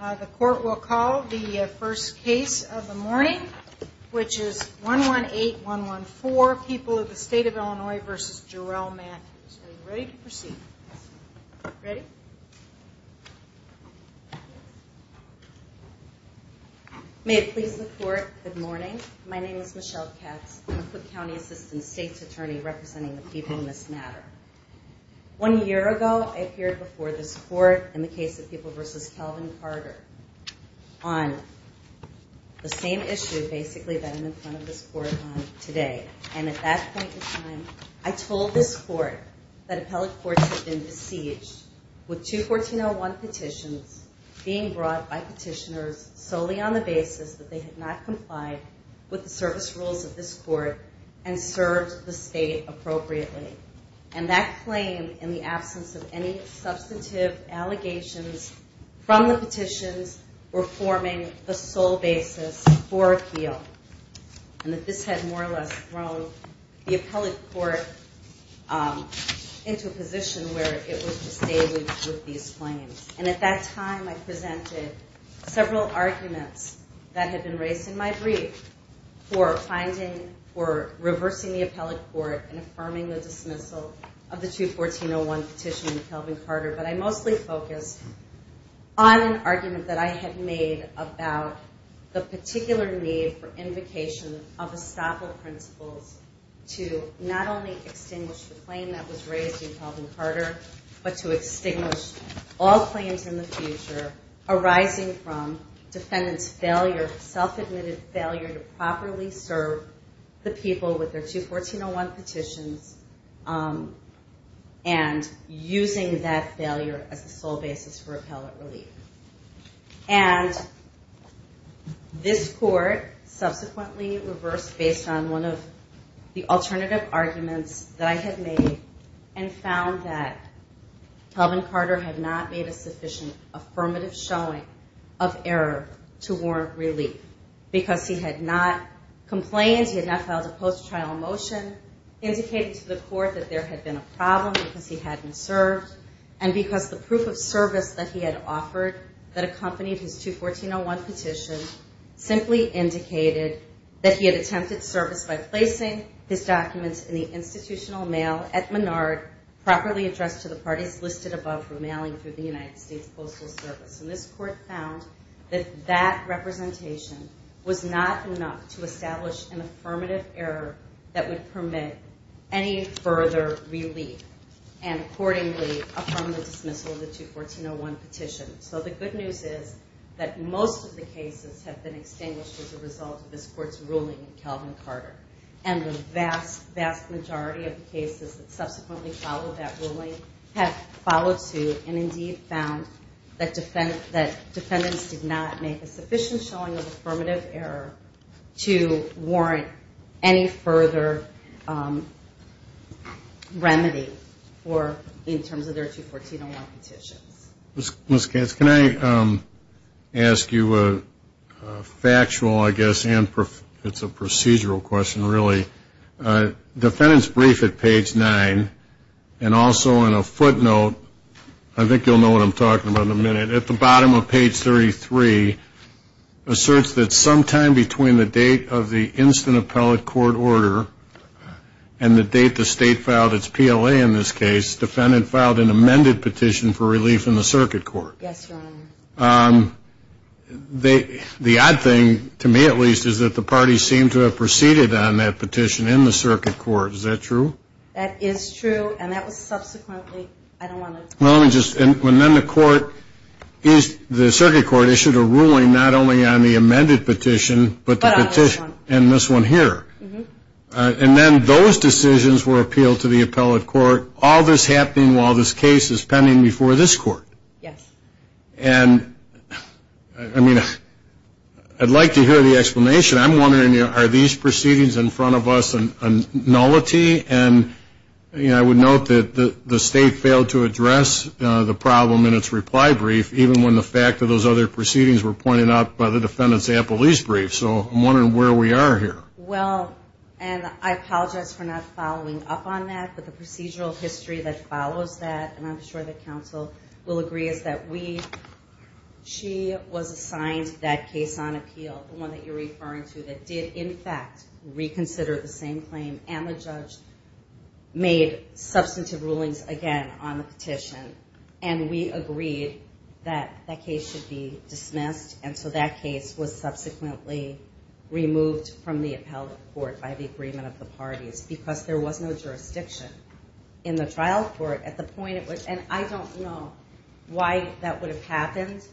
The court will call the first case of the morning, which is 118114, People of the State of Illinois v. Jarrell Matthews. Are you ready to proceed? Ready? May it please the court, good morning. My name is Michelle Katz. I'm the Cook County Assistant State's Attorney representing the people in this matter. One year ago, I appeared before this court in the case of People v. Calvin Carter on the same issue basically that I'm in front of this court on today. And at that point in time, I told this court that appellate courts had been besieged with two 1401 petitions being brought by petitioners solely on the basis that they had not complied with the service rules of this court and served the state appropriately. And that claim, in the absence of any substantive allegations from the petitions, were forming the sole basis for appeal. And that this had more or less thrown the appellate court into a position where it was to stay with these claims. And at that time, I presented several arguments that had been raised in my brief for reversing the appellate court and affirming the dismissal of the two 1401 petition in Calvin Carter. But I mostly focused on an argument that I had made about the particular need for invocation of estoppel principles to not only extinguish the claim that was raised in Calvin Carter, but to extinguish all claims in the future arising from defendant's self-admitted failure to properly serve the people with their two 1401 petitions and using that failure as the sole basis for appellate relief. And this court subsequently reversed based on one of the alternative arguments that I had made and found that Calvin Carter had not made a sufficient affirmative showing of error to warrant relief. Because he had not complained, he had not filed a post-trial motion indicating to the court that there had been a problem because he hadn't served. And because the proof of service that he had offered that accompanied his two 1401 petition simply indicated that he had attempted service by placing his documents in the institutional mail at Menard properly addressed to the parties listed above for mailing through the United States Postal Service. And this court found that that representation was not enough to establish an affirmative error that would permit any further relief and accordingly affirm the dismissal of the two 1401 petition. So the good news is that most of the cases have been extinguished as a result of this court's ruling in Calvin Carter. And the vast, vast majority of the cases that subsequently followed that ruling have followed suit and indeed found that defendants did not make a sufficient showing of affirmative error to warrant any further remedy in terms of their two 1401 petitions. Mr. Katz, can I ask you a factual, I guess, and it's a procedural question really. Defendant's brief at page 9, and also on a footnote, I think you'll know what I'm talking about in a minute. At the bottom of page 33, asserts that sometime between the date of the instant appellate court order and the date the state filed its PLA in this case, defendant filed an amended petition for relief in the circuit court. Yes, Your Honor. The odd thing, to me at least, is that the parties seem to have proceeded on that petition in the circuit court. Is that true? That is true. And that was subsequently, I don't want to. Well, let me just, and then the court, the circuit court issued a ruling not only on the amended petition, but the petition, and this one here. And then those decisions were appealed to the appellate court, all this happening while this case is pending before this court. Yes. And, I mean, I'd like to hear the explanation. I'm wondering, you know, are these proceedings in front of us a nullity? And, you know, I would note that the state failed to address the problem in its reply brief, even when the fact of those other proceedings were pointed out by the defendant's appellee's brief. So I'm wondering where we are here. Well, and I apologize for not following up on that, but the procedural history that follows that, and I'm sure that counsel will agree, is that we, she was assigned that case on appeal, the one that you're referring to, that did, in fact, reconsider the same claim, and the judge made substantive rulings again on the petition. And we agreed that that case should be dismissed, and so that case was subsequently removed from the appellate court by the agreement of the parties, because there was no jurisdiction. In the trial court, at the point at which, and I don't know why that would have happened,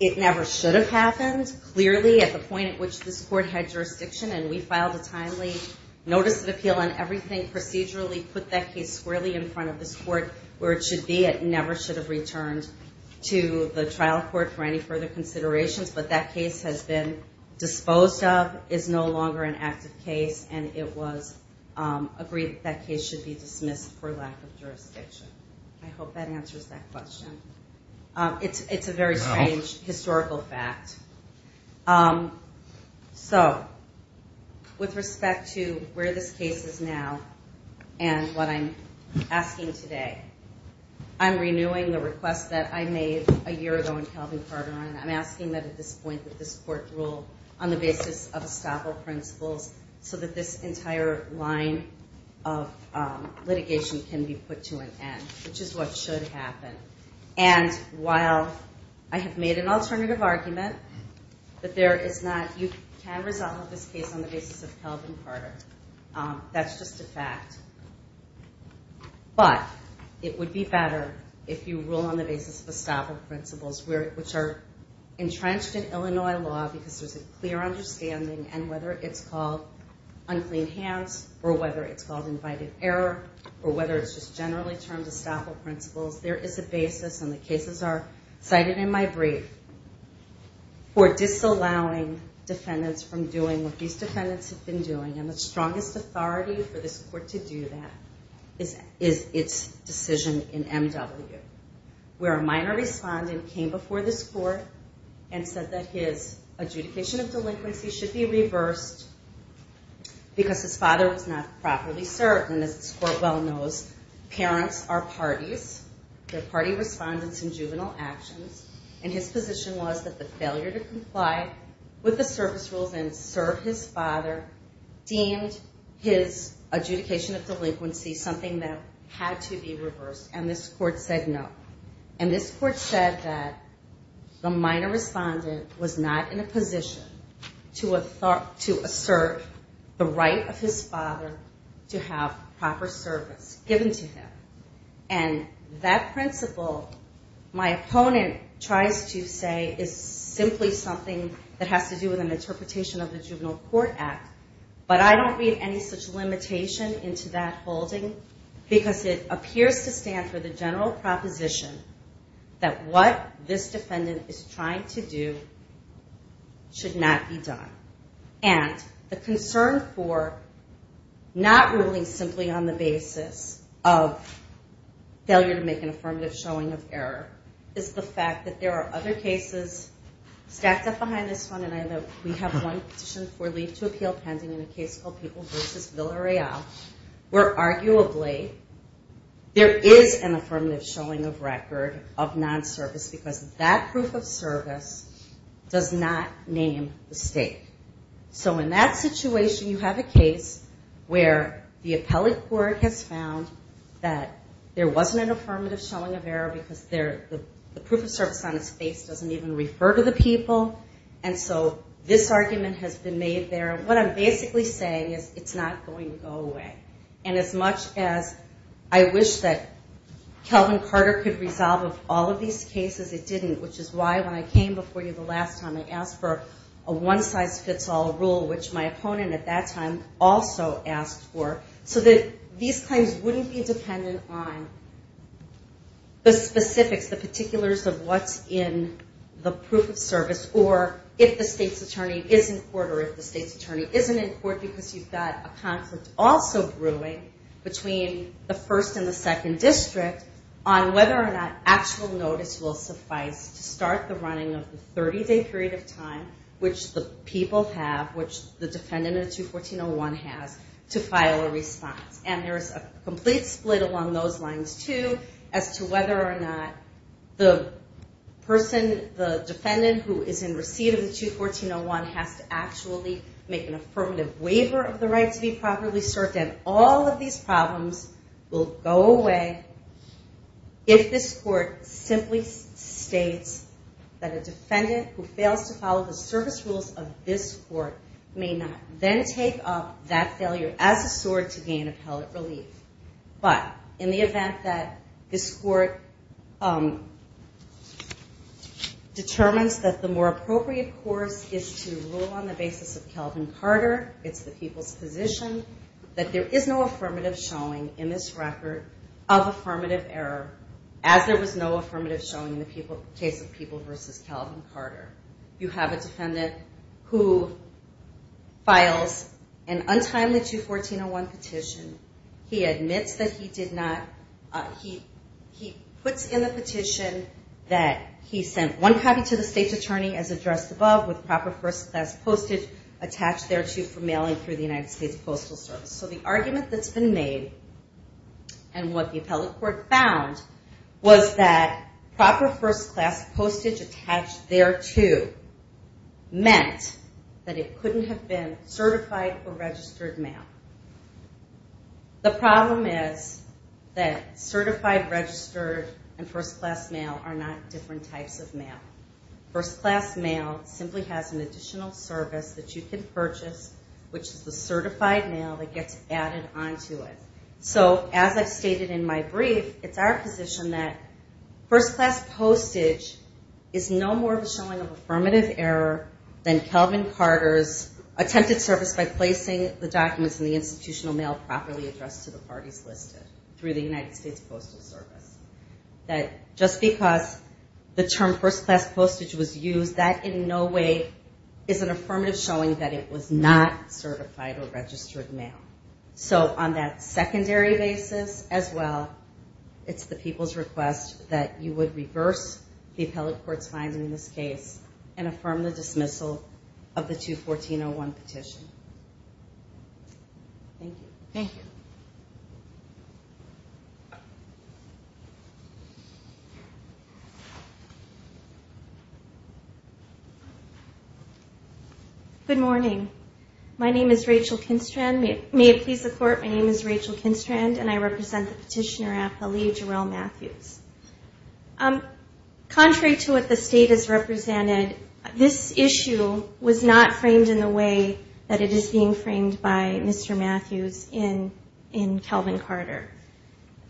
it never should have happened, clearly, at the point at which this court had jurisdiction, and we filed a timely notice of appeal on everything procedurally, put that case squarely in front of this court where it should be. It never should have returned to the trial court for any further considerations, but that case has been disposed of, is no longer an active case, and it was agreed that that case should be dismissed for lack of jurisdiction. I hope that answers that question. It's a very strange historical fact. So, with respect to where this case is now, and what I'm asking today, I'm renewing the request that I made a year ago in Calvin Carter, and I'm asking that at this point, that this court rule on the basis of estoppel principles, so that this entire line of litigation can be put to an end, which is what should happen. And while I have made an alternative argument, that there is not, you can resolve this case on the basis of Calvin Carter. That's just a fact. But it would be better if you rule on the basis of estoppel principles, which are entrenched in Illinois law because there's a clear understanding, and whether it's called unclean hands, or whether it's called invited error, or whether it's just generally termed estoppel principles, there is a basis, and the cases are cited in my brief, for disallowing defendants from doing what these defendants have been doing. And the strongest authority for this court to do that is its decision in M.W., where a minor respondent came before this court and said that his adjudication of delinquency should be reversed, because his father was not properly served, and as this court well knows, parents are parties. They're party respondents in juvenile actions, and his position was that the failure to comply with the service rules and serve his father deemed his adjudication of delinquency something that had to be reversed, and this court said no. And this court said that the minor respondent was not in a position to assert the right of his father to have proper service given to him. And that principle, my opponent tries to say, is simply something that has to do with an interpretation of the Juvenile Court Act, but I don't read any such limitation into that holding, because it appears to stand for the general proposition that what this defendant is trying to do should not be done. And the concern for not ruling simply on the basis of failure to make an affirmative showing of error is the fact that there are other cases stacked up behind this one, and we have one petition for leave to appeal pending, in a case called People v. Villareal, where arguably there is an affirmative showing of record of non-service, because that proof of service does not name the state. So in that situation, you have a case where the appellate court has found that there wasn't an affirmative showing of error because the proof of service on its face doesn't even refer to the people. And so this argument has been made there. What I'm basically saying is it's not going to go away. And as much as I wish that Kelvin Carter could resolve all of these cases, it didn't, which is why when I came before you the last time, I asked for a one-size-fits-all rule, which my opponent at that time also asked for, so that these claims wouldn't be dependent on the specifics, the particulars of what's in the proof of service, or if the state's attorney is in court, or if the state's attorney isn't in court, because you've got a conflict also brewing between the first and the second district on whether or not actual notice will suffice to start the running of the 30-day period of time which the people have, which the defendant of the 214-01 has, to file a response. And there's a complete split along those lines, too, as to whether or not the person, the defendant who is in receipt of the 214-01 has to actually make an affirmative waiver of the right to be properly served. And all of these problems will go away if this court simply states that a defendant who fails to follow the service rules of this court may not then take up that failure as a sword to gain appellate relief. But in the event that this court determines that the more appropriate course is to rule on the basis of Calvin Carter, it's the people's position, that there is no affirmative showing in this record of affirmative error, as there was no affirmative showing in the case of People v. Calvin Carter. You have a defendant who files an untimely 214-01 petition. He admits that he did not, he puts in the petition that he sent one copy to the state's attorney as addressed above with proper first-class postage attached thereto for mailing through the United States Postal Service. So the argument that's been made and what the appellate court found was that proper first-class postage attached thereto meant that it couldn't have been certified or registered mail. The problem is that certified, registered, and first-class mail are not different types of mail. First-class mail simply has an additional service that you can purchase, which is the certified mail that gets added onto it. So as I've stated in my brief, it's our position that first-class postage is no more of a showing of affirmative error than Calvin Carter's attempted service by placing the documents in the institutional mail properly addressed to the parties listed through the United States Postal Service. Just because the term first-class postage was used, that in no way is an affirmative showing that it was not certified or registered mail. So on that secondary basis as well, it's the people's request that you would reverse the appellate court's finding in this case and affirm the dismissal of the 214-01 petition. Thank you. Good morning. My name is Rachel Kinstrand. May it please the Court, my name is Rachel Kinstrand, and I represent the petitioner appellee, Jarell Matthews. Contrary to what the State has represented, this issue was not framed in the way that it is being framed by Mr. Matthews.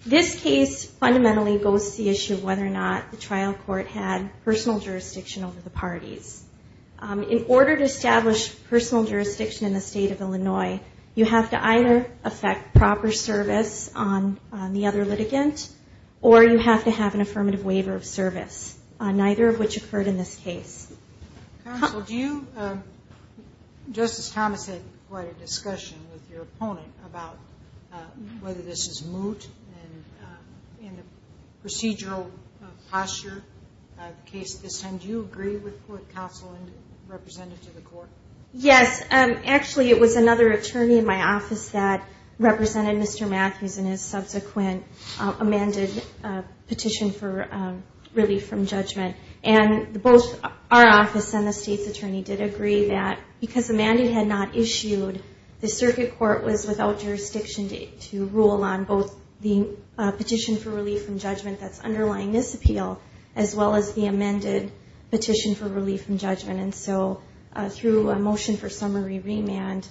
This case fundamentally goes to the issue of whether or not the trial court had personal jurisdiction over the parties. In order to establish personal jurisdiction in the State of Illinois, you have to either affect proper service on the other litigant, or you have to have an affirmative waiver of service, neither of which occurred in this case. Counsel, Justice Thomas had quite a discussion with your opponent about whether this is moot in the procedural posture of the case at this time. Do you agree with what counsel represented to the Court? Yes. Actually, it was another attorney in my office that represented Mr. Matthews in his subsequent amended petition for relief from judgment. And both our office and the State's attorney did agree that because the mandate had not issued, the circuit court was without jurisdiction to rule on both the petition for relief from judgment that's underlying this appeal, as well as the amended petition for relief from judgment. And so through a motion for summary remand,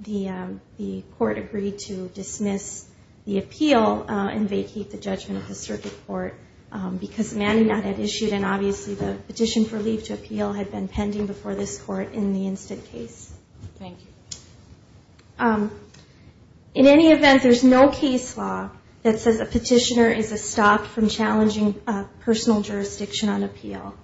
the Court agreed to dismiss the appeal and vacate the judgment of the circuit court, because the mandate had not issued an objection. Obviously, the petition for relief to appeal had been pending before this Court in the instant case. In any event, there's no case law that says a petitioner is stopped from challenging personal jurisdiction on appeal.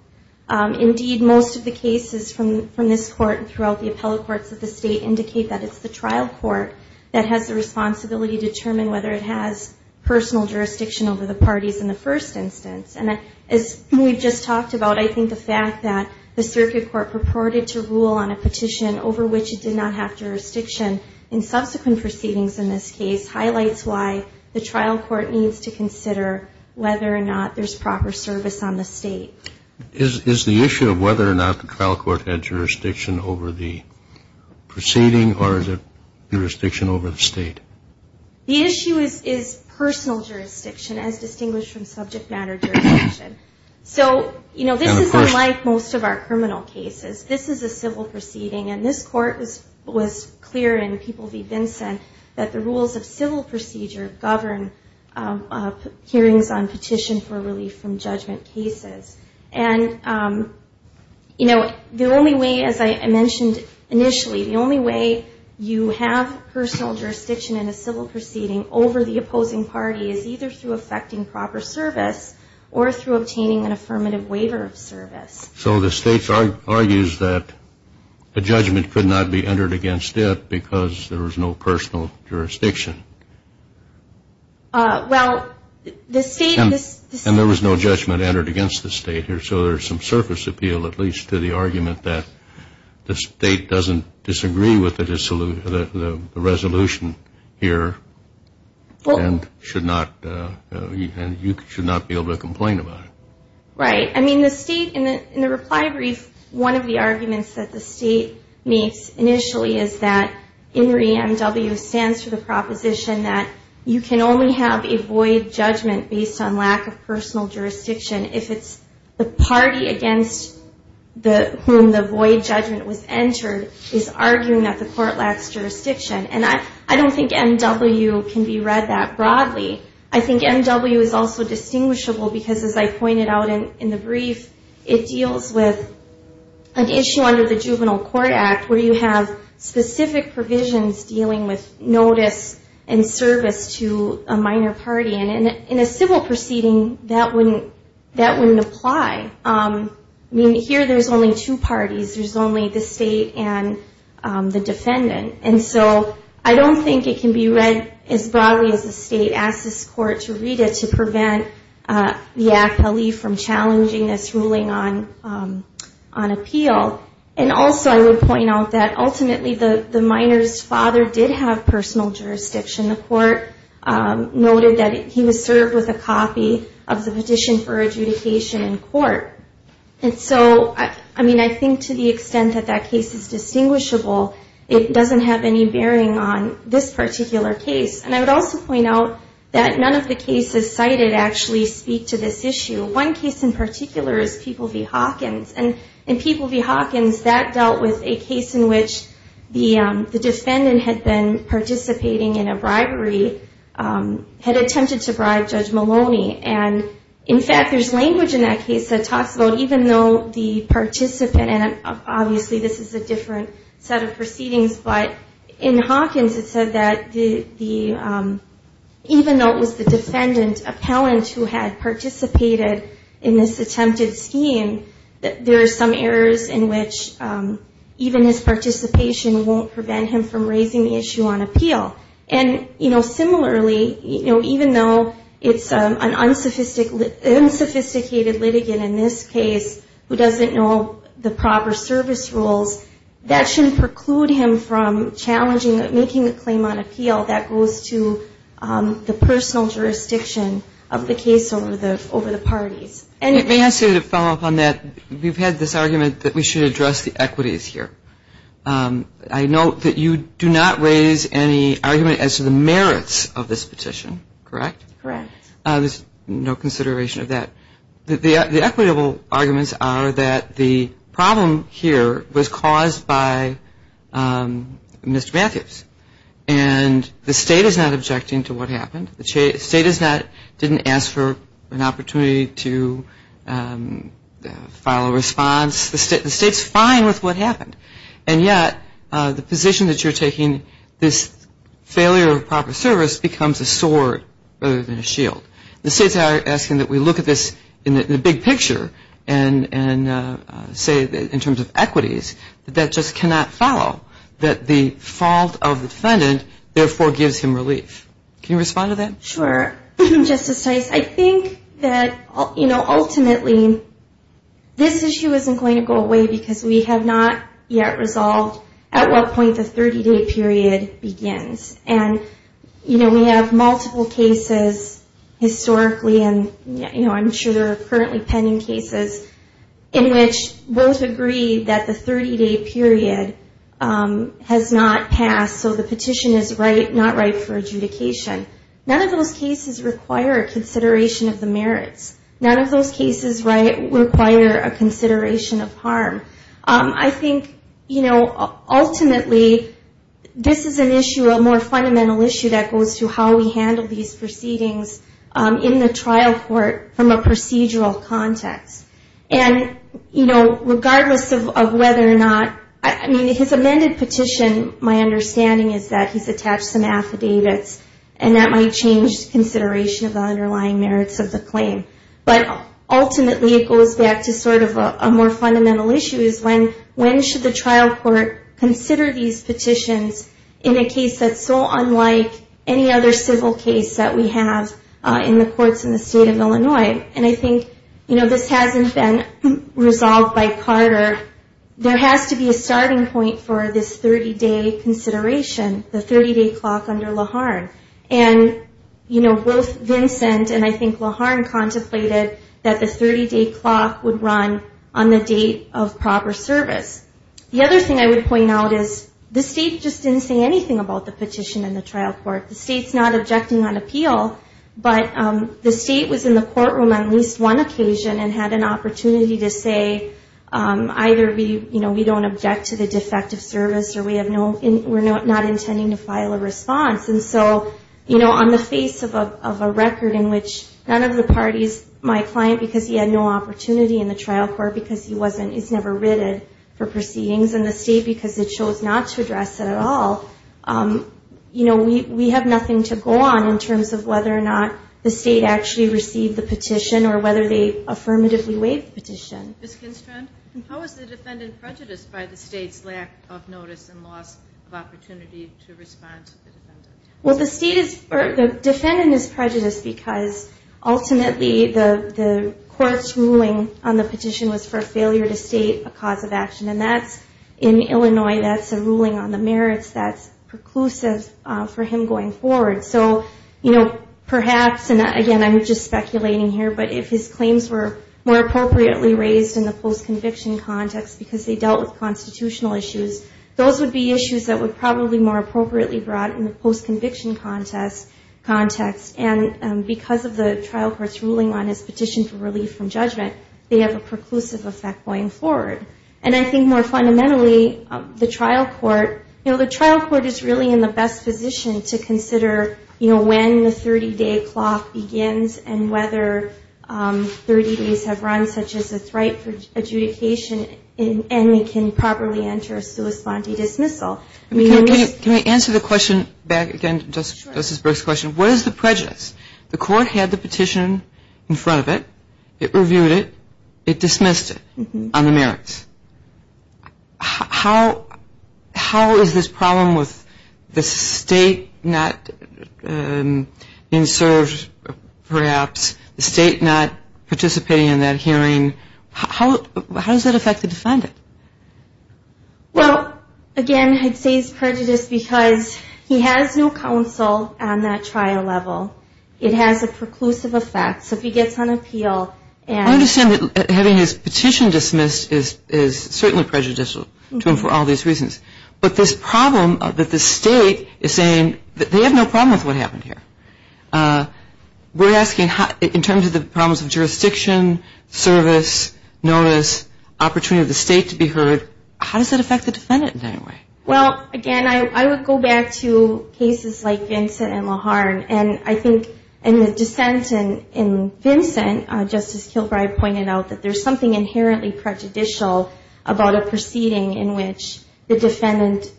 Indeed, most of the cases from this Court and throughout the appellate courts of the State indicate that it's the trial court that has the responsibility to determine whether it has personal jurisdiction over the parties in the first instance. And as we've just talked about, I think the fact that the circuit court purported to rule on a petition over which it did not have jurisdiction in subsequent proceedings in this case highlights why the trial court needs to consider whether or not there's proper service on the State. Is the issue of whether or not the trial court had jurisdiction over the proceeding, or is it jurisdiction over the State? The issue is personal jurisdiction, as distinguished from subject matter jurisdiction. So, you know, this is unlike most of our criminal cases. This is a civil proceeding, and this Court was clear in People v. Vinson that the rules of civil procedure govern hearings on petition for relief from judgment cases. And, you know, the only way, as I mentioned initially, the only way you have personal jurisdiction is if you have jurisdiction over the proceeding. And the only way you have personal jurisdiction in a civil proceeding over the opposing party is either through effecting proper service or through obtaining an affirmative waiver of service. So the State argues that a judgment could not be entered against it because there was no personal jurisdiction. Well, the State... And there was no judgment entered against the State here, so there's some surface appeal, at least, to the argument that the State doesn't disagree with the resolution. Well... And should not, and you should not be able to complain about it. Right. I mean, the State, in the reply brief, one of the arguments that the State makes initially is that INRI M.W. stands for the proposition that you can only have a void judgment based on lack of personal jurisdiction if it's the party against whom the void judgment was entered is arguing that the Court lacks jurisdiction. And I don't think M.W. can be read that broadly. I think M.W. is also distinguishable because, as I pointed out in the brief, it deals with an issue under the Juvenile Court Act where you have specific provisions dealing with notice and service to a minor party. And in a civil proceeding, that wouldn't apply. I mean, here, there's only two parties. There's only the State and the defendant. And so, you know, the State has to make a judgment. And so, I don't think it can be read as broadly as the State asked this Court to read it to prevent the appellee from challenging this ruling on appeal. And also, I would point out that, ultimately, the minor's father did have personal jurisdiction. The Court noted that he was served with a copy of the petition for adjudication in court. And so, I mean, I think to the extent that that case is distinguishable, it doesn't have any bearing on whether the minor's father had personal jurisdiction or not. And so, I don't think that there's any bearing on this particular case. And I would also point out that none of the cases cited actually speak to this issue. One case in particular is People v. Hawkins. And in People v. Hawkins, that dealt with a case in which the defendant had been participating in a bribery, had attempted to bribe Judge Maloney. And, in fact, there's language in that case that talks about even though the participant, and obviously this is a different set of proceedings, but in Hawkins, the defendant had been participating in a bribery. And in Hawkins, it said that even though it was the defendant appellant who had participated in this attempted scheme, there are some errors in which even his participation won't prevent him from raising the issue on appeal. And, you know, similarly, even though it's an unsophisticated litigant in this case who doesn't know the proper service rules, that shouldn't preclude him from challenging it. And, you know, making a claim on appeal, that goes to the personal jurisdiction of the case over the parties. And it may have to follow up on that. We've had this argument that we should address the equities here. I note that you do not raise any argument as to the merits of this petition, correct? Correct. There's no consideration of that. The equitable arguments are that the problem here was caused by Mr. Matthews. And the state is not objecting to what happened. The state didn't ask for an opportunity to file a response. The state's fine with what happened. And yet the position that you're taking, this failure of proper service, becomes a sword rather than a shield. The state's asking that we look at this in the big picture and say, in terms of equities, that that just cannot follow. That the fault of the defendant, therefore, gives him relief. Can you respond to that? Sure. Justice Tice, I think that, you know, ultimately, this issue isn't going to go away because we have not yet resolved at what point the 30-day period begins. And, you know, we have multiple cases historically, and, you know, I'm sure there are currently pending cases, in which both agree that the 30-day period is not going to go away. And the petition has not passed, so the petition is not right for adjudication. None of those cases require a consideration of the merits. None of those cases require a consideration of harm. I think, you know, ultimately, this is an issue, a more fundamental issue, that goes to how we handle these proceedings in the trial court from a procedural context. And, you know, regardless of whether or not, I mean, his amended petition, my understanding is that he's attached some affidavits, and that might change consideration of the underlying merits of the claim. But, ultimately, it goes back to sort of a more fundamental issue, is when should the trial court consider these petitions in a case that's so unlike any other civil case that we have in the courts in the state of Illinois. And I think, you know, this hasn't been resolved by Carter. There has to be a starting point for this 30-day consideration, the 30-day clock under Laharn. And, you know, both Vincent and I think Laharn contemplated that the 30-day clock would run on the date of proper service. The other thing I would point out is the state just didn't say anything about the petition in the trial court. The state's not objecting on appeal, but the state was in the courtroom on at least one occasion and had an opportunity to say, either we, you know, we don't object to the defect of service, or we have no, we're not intending to file a response. And so, you know, on the face of a record in which none of the parties, my client, because he had no opportunity in the trial court, because he wasn't, he's never written for proceedings, and the state, because it chose not to address it at all, you know, we have an opportunity to say, either we, you know, we don't object to the defect of service, or we have no, we're not intending to file a response. So we have nothing to go on in terms of whether or not the state actually received the petition or whether they affirmatively waived the petition. Ms. Kinstrand, how is the defendant prejudiced by the state's lack of notice and loss of opportunity to respond to the defendant? Well, the state is, the defendant is prejudiced because ultimately the court's ruling on the petition was for failure to state a cause of action, and that's, in Illinois, that's a ruling on the merits that's preclusive for him going forward. So, you know, perhaps, and again, I'm just speculating here, but if his claims were more appropriately raised in the post-conviction context because they dealt with constitutional issues, those would be issues that would probably be more appropriately brought in the post-conviction context, and because of the trial court's ruling on his petition for relief from judgment, they have a preclusive effect going forward. And I think more fundamentally, the trial court, you know, the trial court is really in the best position to consider whether or not the defendant is prejudiced. They can consider, you know, when the 30-day clock begins and whether 30 days have run, such as a threat for adjudication, and they can properly enter a sui sponte dismissal. Can I answer the question back again to Justice Brooks' question? What is the prejudice? The court had the petition in front of it. It reviewed it. It dismissed it on the merits. How is this problem with the state not being served, perhaps, the state not participating in that hearing, how does that affect the defendant? Well, again, I'd say it's prejudice because he has no counsel on that trial level. It has a preclusive effect. So if he gets on appeal and... I understand that having his petition dismissed is certainly prejudicial to him for all these reasons. But this problem that the state is saying that they have no problem with what happened here. We're asking in terms of the problems of jurisdiction, service, notice, opportunity of the state to be heard, how does that affect the defendant in any way? Well, again, I would go back to cases like Vincent and Laharn. And I think in the dissent in Vincent, Justice Kilbride pointed out that there's something inherently prejudicial about a proceeding in which the defendant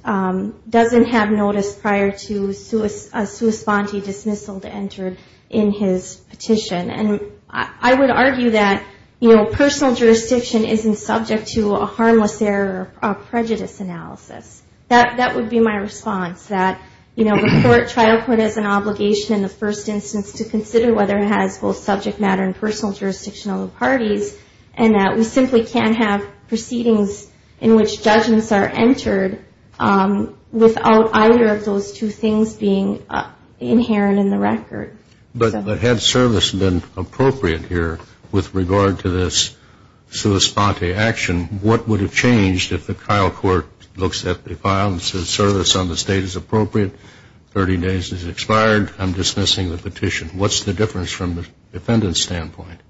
doesn't have notice prior to a sui sponte dismissal to enter in his petition. And I would argue that personal jurisdiction isn't subject to a harmless error or prejudice analysis. That would be my response, that, you know, the court, trial court has an obligation in the first instance to consider whether it has both subject matter and personal jurisdiction on the parties. And that we simply can't have proceedings in which judgments are entered without either of those two things being inherent in the record. But had service been appropriate here with regard to this sui sponte action, what would have changed if the trial court looks at it differently? If the trial court looks at the file and says service on the state is appropriate, 30 days has expired, I'm dismissing the petition. What's the difference from the defendant's standpoint?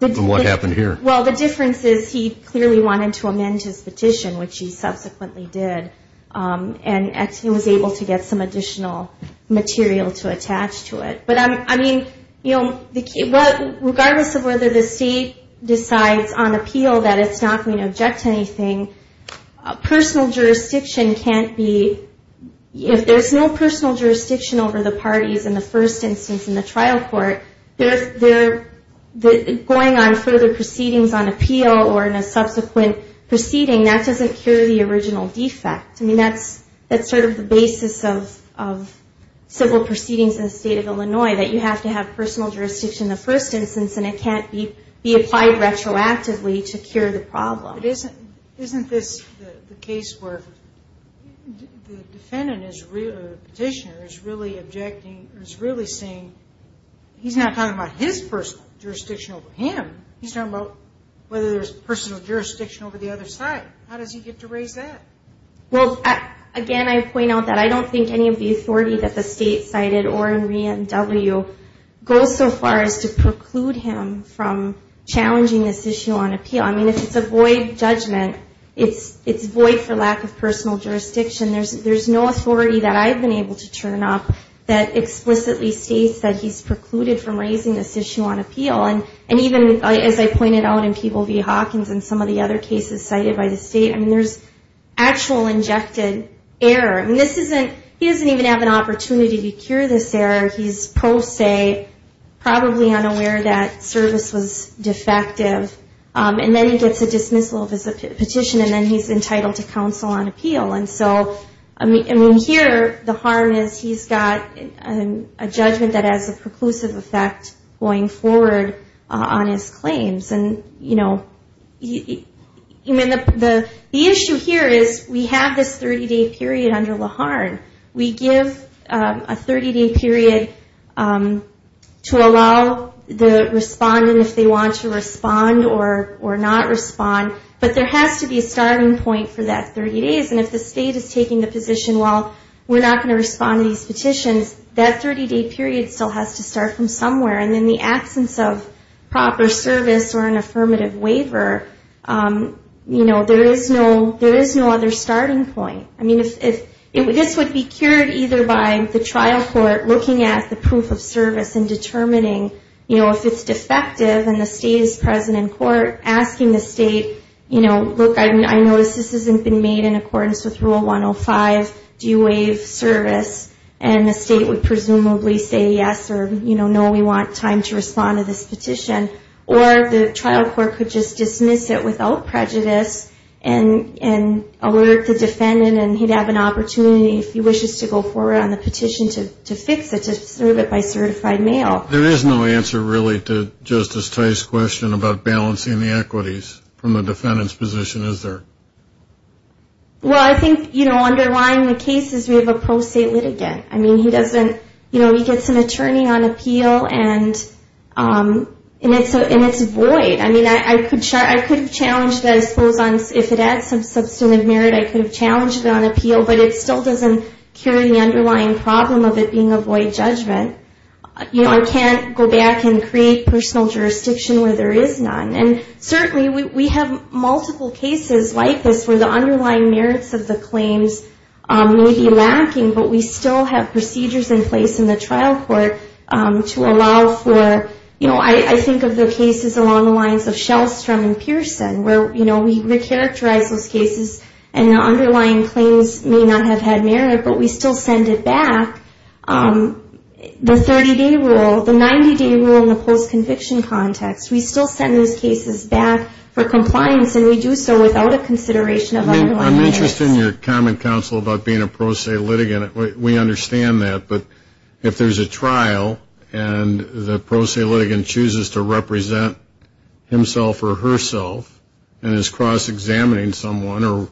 And what happened here? Well, the difference is he clearly wanted to amend his petition, which he subsequently did. And he was able to get some additional material to attach to it. But, I mean, you know, regardless of whether the state decides on appeal that it's not going to object to anything, personal jurisdiction is not subject to any kind of judgment analysis. And if there's no personal jurisdiction over the parties in the first instance in the trial court, going on further proceedings on appeal or in a subsequent proceeding, that doesn't cure the original defect. I mean, that's sort of the basis of civil proceedings in the state of Illinois, that you have to have personal jurisdiction in the first instance, and it can't be applied retroactively to cure the problem. Isn't this the case where the defendant is really objecting, is really saying, he's not talking about his personal jurisdiction over him, he's talking about whether there's personal jurisdiction over the other side. How does he get to raise that? Well, again, I point out that I don't think any of the authority that the state cited or in W goes so far as to preclude him from challenging this issue on appeal. I mean, if it's a void judgment, it's void for lack of personal jurisdiction. There's no authority that I've been able to turn up that explicitly states that he's precluded from raising this issue on appeal. And even as I pointed out in Peeble v. Hawkins and some of the other cases cited by the state, I mean, there's actual injected error. I mean, this isn't, he doesn't even have an opportunity to cure this error. He's pro se, probably unaware that service was defective. And then he gets a dismissal of his petition, and then he's entitled to counsel on appeal. And so, I mean, here, Laharn is, he's got a judgment that has a preclusive effect going forward on his claims. And, you know, the issue here is we have this 30-day period under Laharn. We give a 30-day period to allow the respondent, if they want to respond, or if they don't want to respond, to have a 30-day period. And then they can appeal or not respond. But there has to be a starting point for that 30 days. And if the state is taking the position, well, we're not going to respond to these petitions, that 30-day period still has to start from somewhere. And in the absence of proper service or an affirmative waiver, you know, there is no other starting point. I mean, this would be cured either by the trial court looking at the proof of service and determining, you know, if it's defective and the state is present in court. Or asking the state, you know, look, I notice this hasn't been made in accordance with Rule 105. Do you waive service? And the state would presumably say yes or, you know, no, we want time to respond to this petition. Or the trial court could just dismiss it without prejudice and alert the defendant and he'd have an opportunity, if he wishes to go forward on the petition, to fix it, to serve it by certified mail. There is no answer, really, to Justice Tye's question about balancing the equities from the defendant's position, is there? Well, I think, you know, underlying the case is we have a pro-state litigant. I mean, he doesn't, you know, he gets an attorney on appeal and it's void. I mean, I could have challenged that, I suppose, if it had some substantive merit, I could have challenged it on appeal. But it still doesn't cure the underlying problem of it being a void judgment. You know, I can't go back and create personal jurisdiction where there is none. And certainly we have multiple cases like this where the underlying merits of the claims may be lacking, but we still have procedures in place in the trial court to allow for, you know, I think of the cases along the lines of Shellstrom and Pearson, where, you know, we recharacterize those cases and the underlying claims may not have had merit, but we still send it back. And the 30-day rule, the 90-day rule in the post-conviction context, we still send those cases back for compliance and we do so without a consideration of underlying merits. I mean, I'm interested in your comment, counsel, about being a pro-state litigant. We understand that, but if there's a trial and the pro-state litigant chooses to represent himself or herself and is cross-examining someone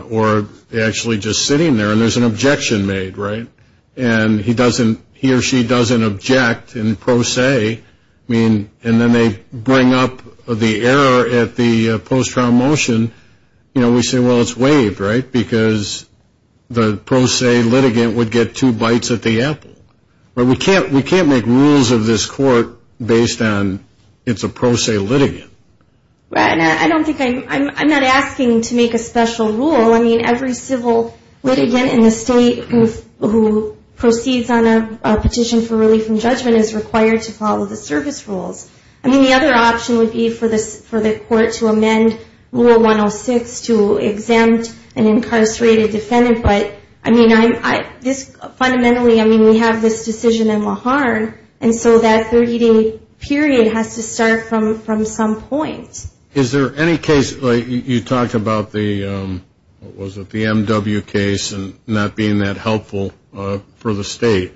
or actually just sitting there and there's an objection made, right? And he or she doesn't object in pro se, I mean, and then they bring up the error at the post-trial motion, you know, we say, well, it's waived, right? Because the pro-state litigant would get two bites at the apple. But we can't make rules of this court based on it's a pro-state litigant. Right. And I don't think I'm, I'm not asking to make a special rule. I mean, every civil litigant in the state who proceeds on a petition for relief from judgment is required to follow the service rules. I mean, the other option would be for the court to amend rule 106 to exempt an incarcerated defendant. But, I mean, fundamentally, I mean, we have this decision in Laharn, and so that 30-day period has to start from some point. Is there any case, like, you talked about the, what was it, the M.W. case and not being that helpful for the state.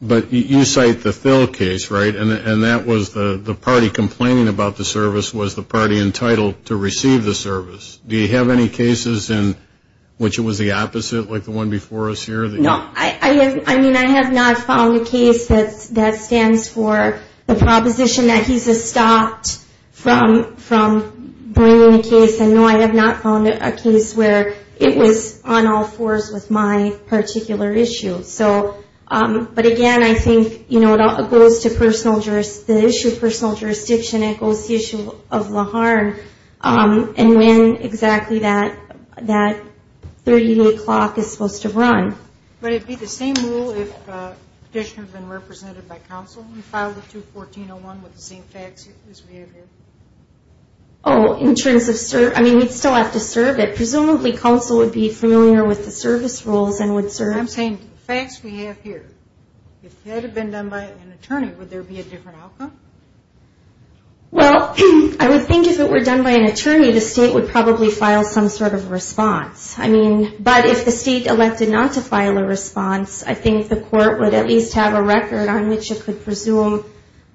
But you cite the Thill case, right? And that was the party complaining about the service was the party entitled to receive the service. Do you have any cases in which it was the opposite, like the one before us here? No, I have, I mean, I have not found a case that, that stands for the proposition that he's estopped from the state. From bringing a case, and no, I have not found a case where it was on all fours with my particular issue. So, but again, I think, you know, it goes to personal, the issue of personal jurisdiction. It goes to the issue of Laharn, and when exactly that, that 30-day clock is supposed to run. But it would be the same rule if the petitioner had been represented by counsel and filed a 214-01 with the same facts as we have here. Oh, in terms of, I mean, we'd still have to serve it. Presumably, counsel would be familiar with the service rules and would serve. I'm saying, the facts we have here, if that had been done by an attorney, would there be a different outcome? Well, I would think if it were done by an attorney, the state would probably file some sort of response. I mean, but if the state elected not to file a response, I think the court would at least have a record on which it could presume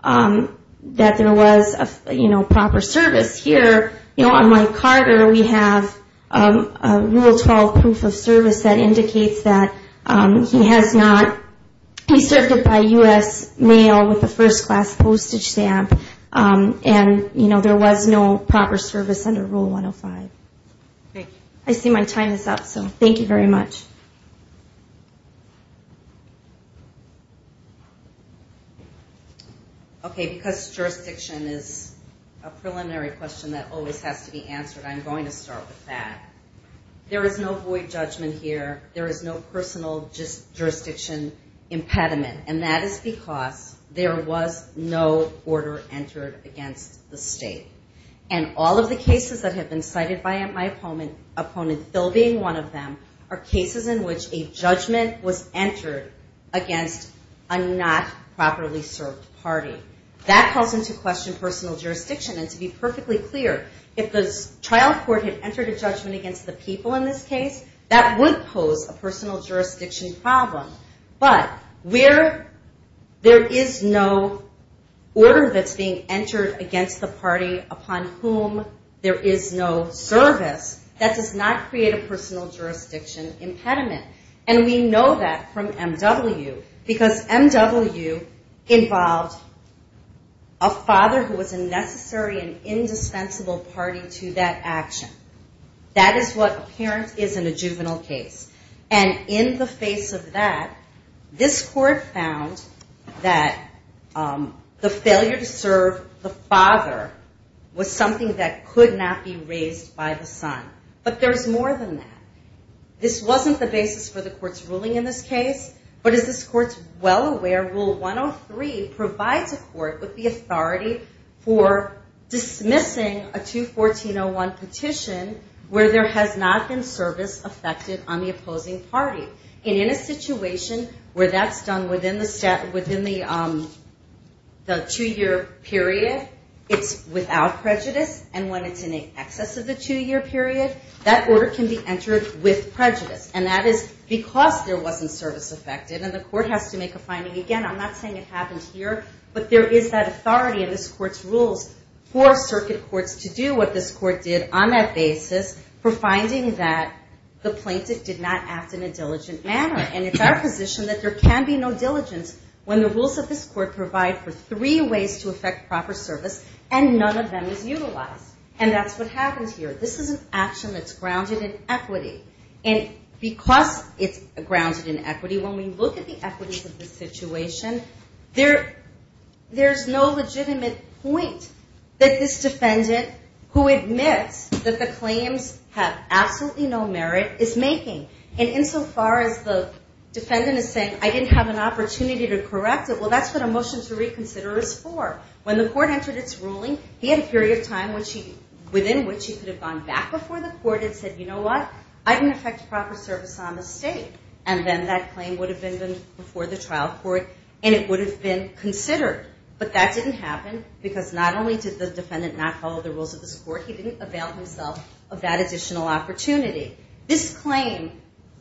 that there was, you know, proper service. Here, you know, on Mike Carter, we have a Rule 12 proof of service that indicates that he has not, he served it by U.S. mail with a first-class postage stamp, and, you know, there was no proper service under Rule 105. I see my time is up, so thank you very much. Okay, because jurisdiction is a preliminary question that always has to be answered, I'm going to start with that. There is no void judgment here. There is no personal jurisdiction impediment, and that is because there was no order entered against the state. And all of the cases that have been cited by my opponent, Phil being one of them, are cases that have been cited against the state. There is no reason which a judgment was entered against a not properly served party. That calls into question personal jurisdiction, and to be perfectly clear, if the trial court had entered a judgment against the people in this case, that would pose a personal jurisdiction problem. But where there is no order that's being entered against the party upon whom there is no service, that does not create a personal jurisdiction impediment. And we know that from M.W., because M.W. involved a father who was a necessary and indispensable party to that action. That is what a parent is in a juvenile case. And in the face of that, this court found that the failure to serve the father was something that could not be raised by the son. But there is more than that. This wasn't the basis for the court's ruling in this case, but as this court is well aware, Rule 103 provides a court with the authority for dismissing a 214.01 petition where there has not been service affected on the opposing party. And in a situation where that's done within the two-year period, it's without prejudice. And when it's in excess of the two-year period, that order can be entered with prejudice. And that is because there wasn't service affected, and the court has to make a finding. Again, I'm not saying it happened here, but there is that authority in this court's rules for circuit courts to do what this court did on that basis for finding that the plaintiff did not act in a diligent manner. And it's our position that there can be no diligence when the rules of this court provide for three ways to affect proper service, and none of them is utilized. And that's what happens here. This is an action that's grounded in equity. And because it's grounded in equity, when we look at the equities of the situation, there's no legitimate point that this defendant who admits that the claims have absolutely no merit is making. And insofar as the defendant is saying, I didn't have an opportunity to correct it, well, that's what a motion to reconsider is for. When the court entered its ruling, he had a period of time within which he could have gone back before the court and said, you know what, I didn't affect proper service on the state. And then that claim would have been before the trial court, and it would have been considered. But that didn't happen, because not only did the defendant not follow the rules of this court, he didn't avail himself of that additional opportunity. This claim,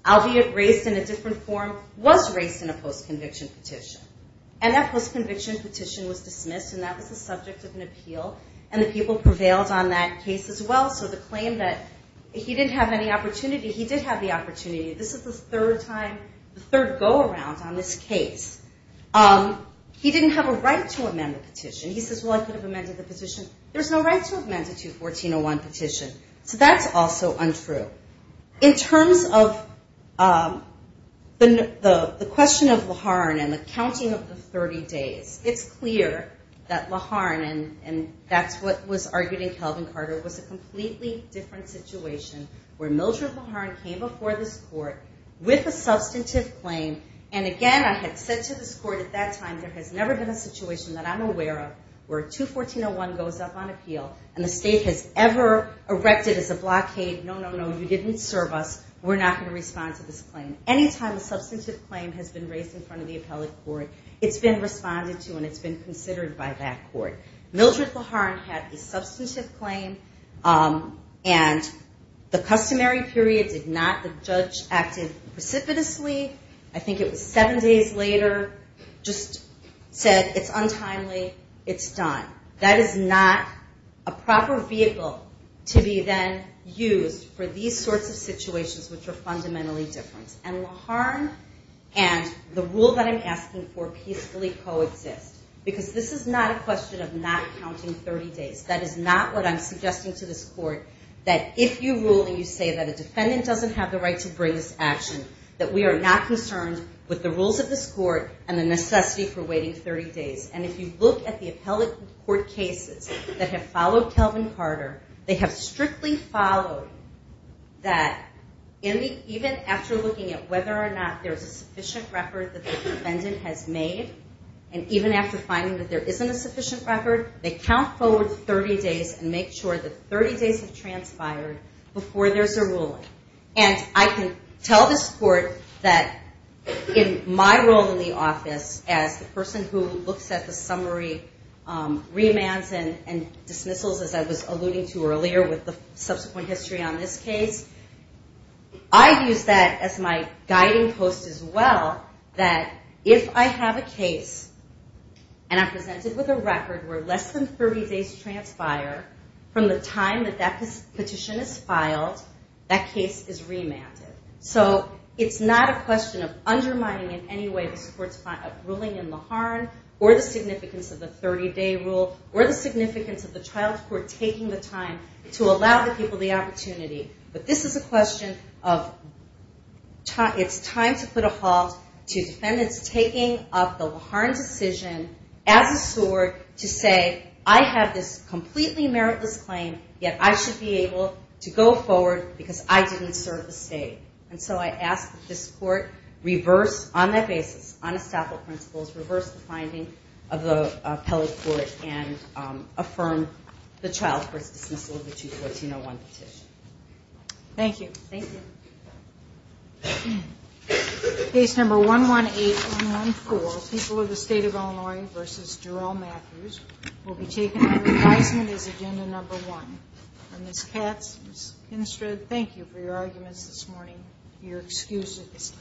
albeit raised in a different form, was raised in a post-conviction petition. And that post-conviction petition was dismissed, and that was the subject of an appeal. And the people prevailed on that case as well. So the claim that he didn't have any opportunity, he did have the opportunity. This is the third time, the third go-around on this case. He didn't have a right to amend the petition. He says, well, I could have amended the petition. There's no right to amend a 214-01 petition. So that's also untrue. In terms of the question of Laharn and the counsel, it's the counting of the 30 days. It's clear that Laharn, and that's what was argued in Calvin Carter, was a completely different situation, where Mildred Laharn came before this court with a substantive claim, and again, I had said to this court at that time, there has never been a situation that I'm aware of where 214-01 goes up on appeal, and the state has ever erected as a blockade, no, no, no, you didn't serve us, we're not going to respond to this claim. Anytime a substantive claim has been raised in front of the appellate court, it's been responded to and it's been considered by that court. Mildred Laharn had a substantive claim, and the customary period did not, the judge acted precipitously, I think it was seven days later, just said, it's untimely, it's done. That is not a proper vehicle to be then used for these sorts of situations which are fundamentally different, and Laharn and the rule that I'm asking for peacefully coexist, because this is not a question of not counting 30 days, that is not what I'm suggesting to this court, that if you rule and you say that a defendant doesn't have the right to bring this action, that we are not concerned with the rules of this court and the necessity for waiting 30 days, and if you look at the appellate court cases that have followed Calvin Carter, they have strictly followed that even after looking at whether or not there's a sufficient record that the defendant has made, and even after finding that there isn't a sufficient record, they count forward 30 days and make sure that 30 days have transpired before there's a ruling. And I can tell this court that in my role in the office as the person who looks at the summary remands and dismissals as I was alluding to earlier with the subsequent history on this case, I use that as my guiding post as well that if I have a case and I present it with a record where less than 30 days transpire from the time that that petition is filed, that case is remanded. So it's not a question of undermining in any way this court's ruling in Laharn, or the significance of the 30-day rule, or the significance of the child's court taking the time to allow the people the opportunity. But this is a question of, it's time to put a halt to defendants taking up the Laharn decision as a sword to say, I have this completely meritless claim, yet I should be able to go forward because I didn't serve the state. And so I ask that this court reverse, on that basis, on estoppel principles, reverse the finding of the appellate court and affirm the child's court's dismissal of the 214-01 petition. Thank you. Case number 118-114 People of the State of Illinois v. Jarrell Matthews will be taken under advisement as agenda number one. Ms. Katz, Ms. Kinstrad, thank you for your arguments this morning, and your excuses.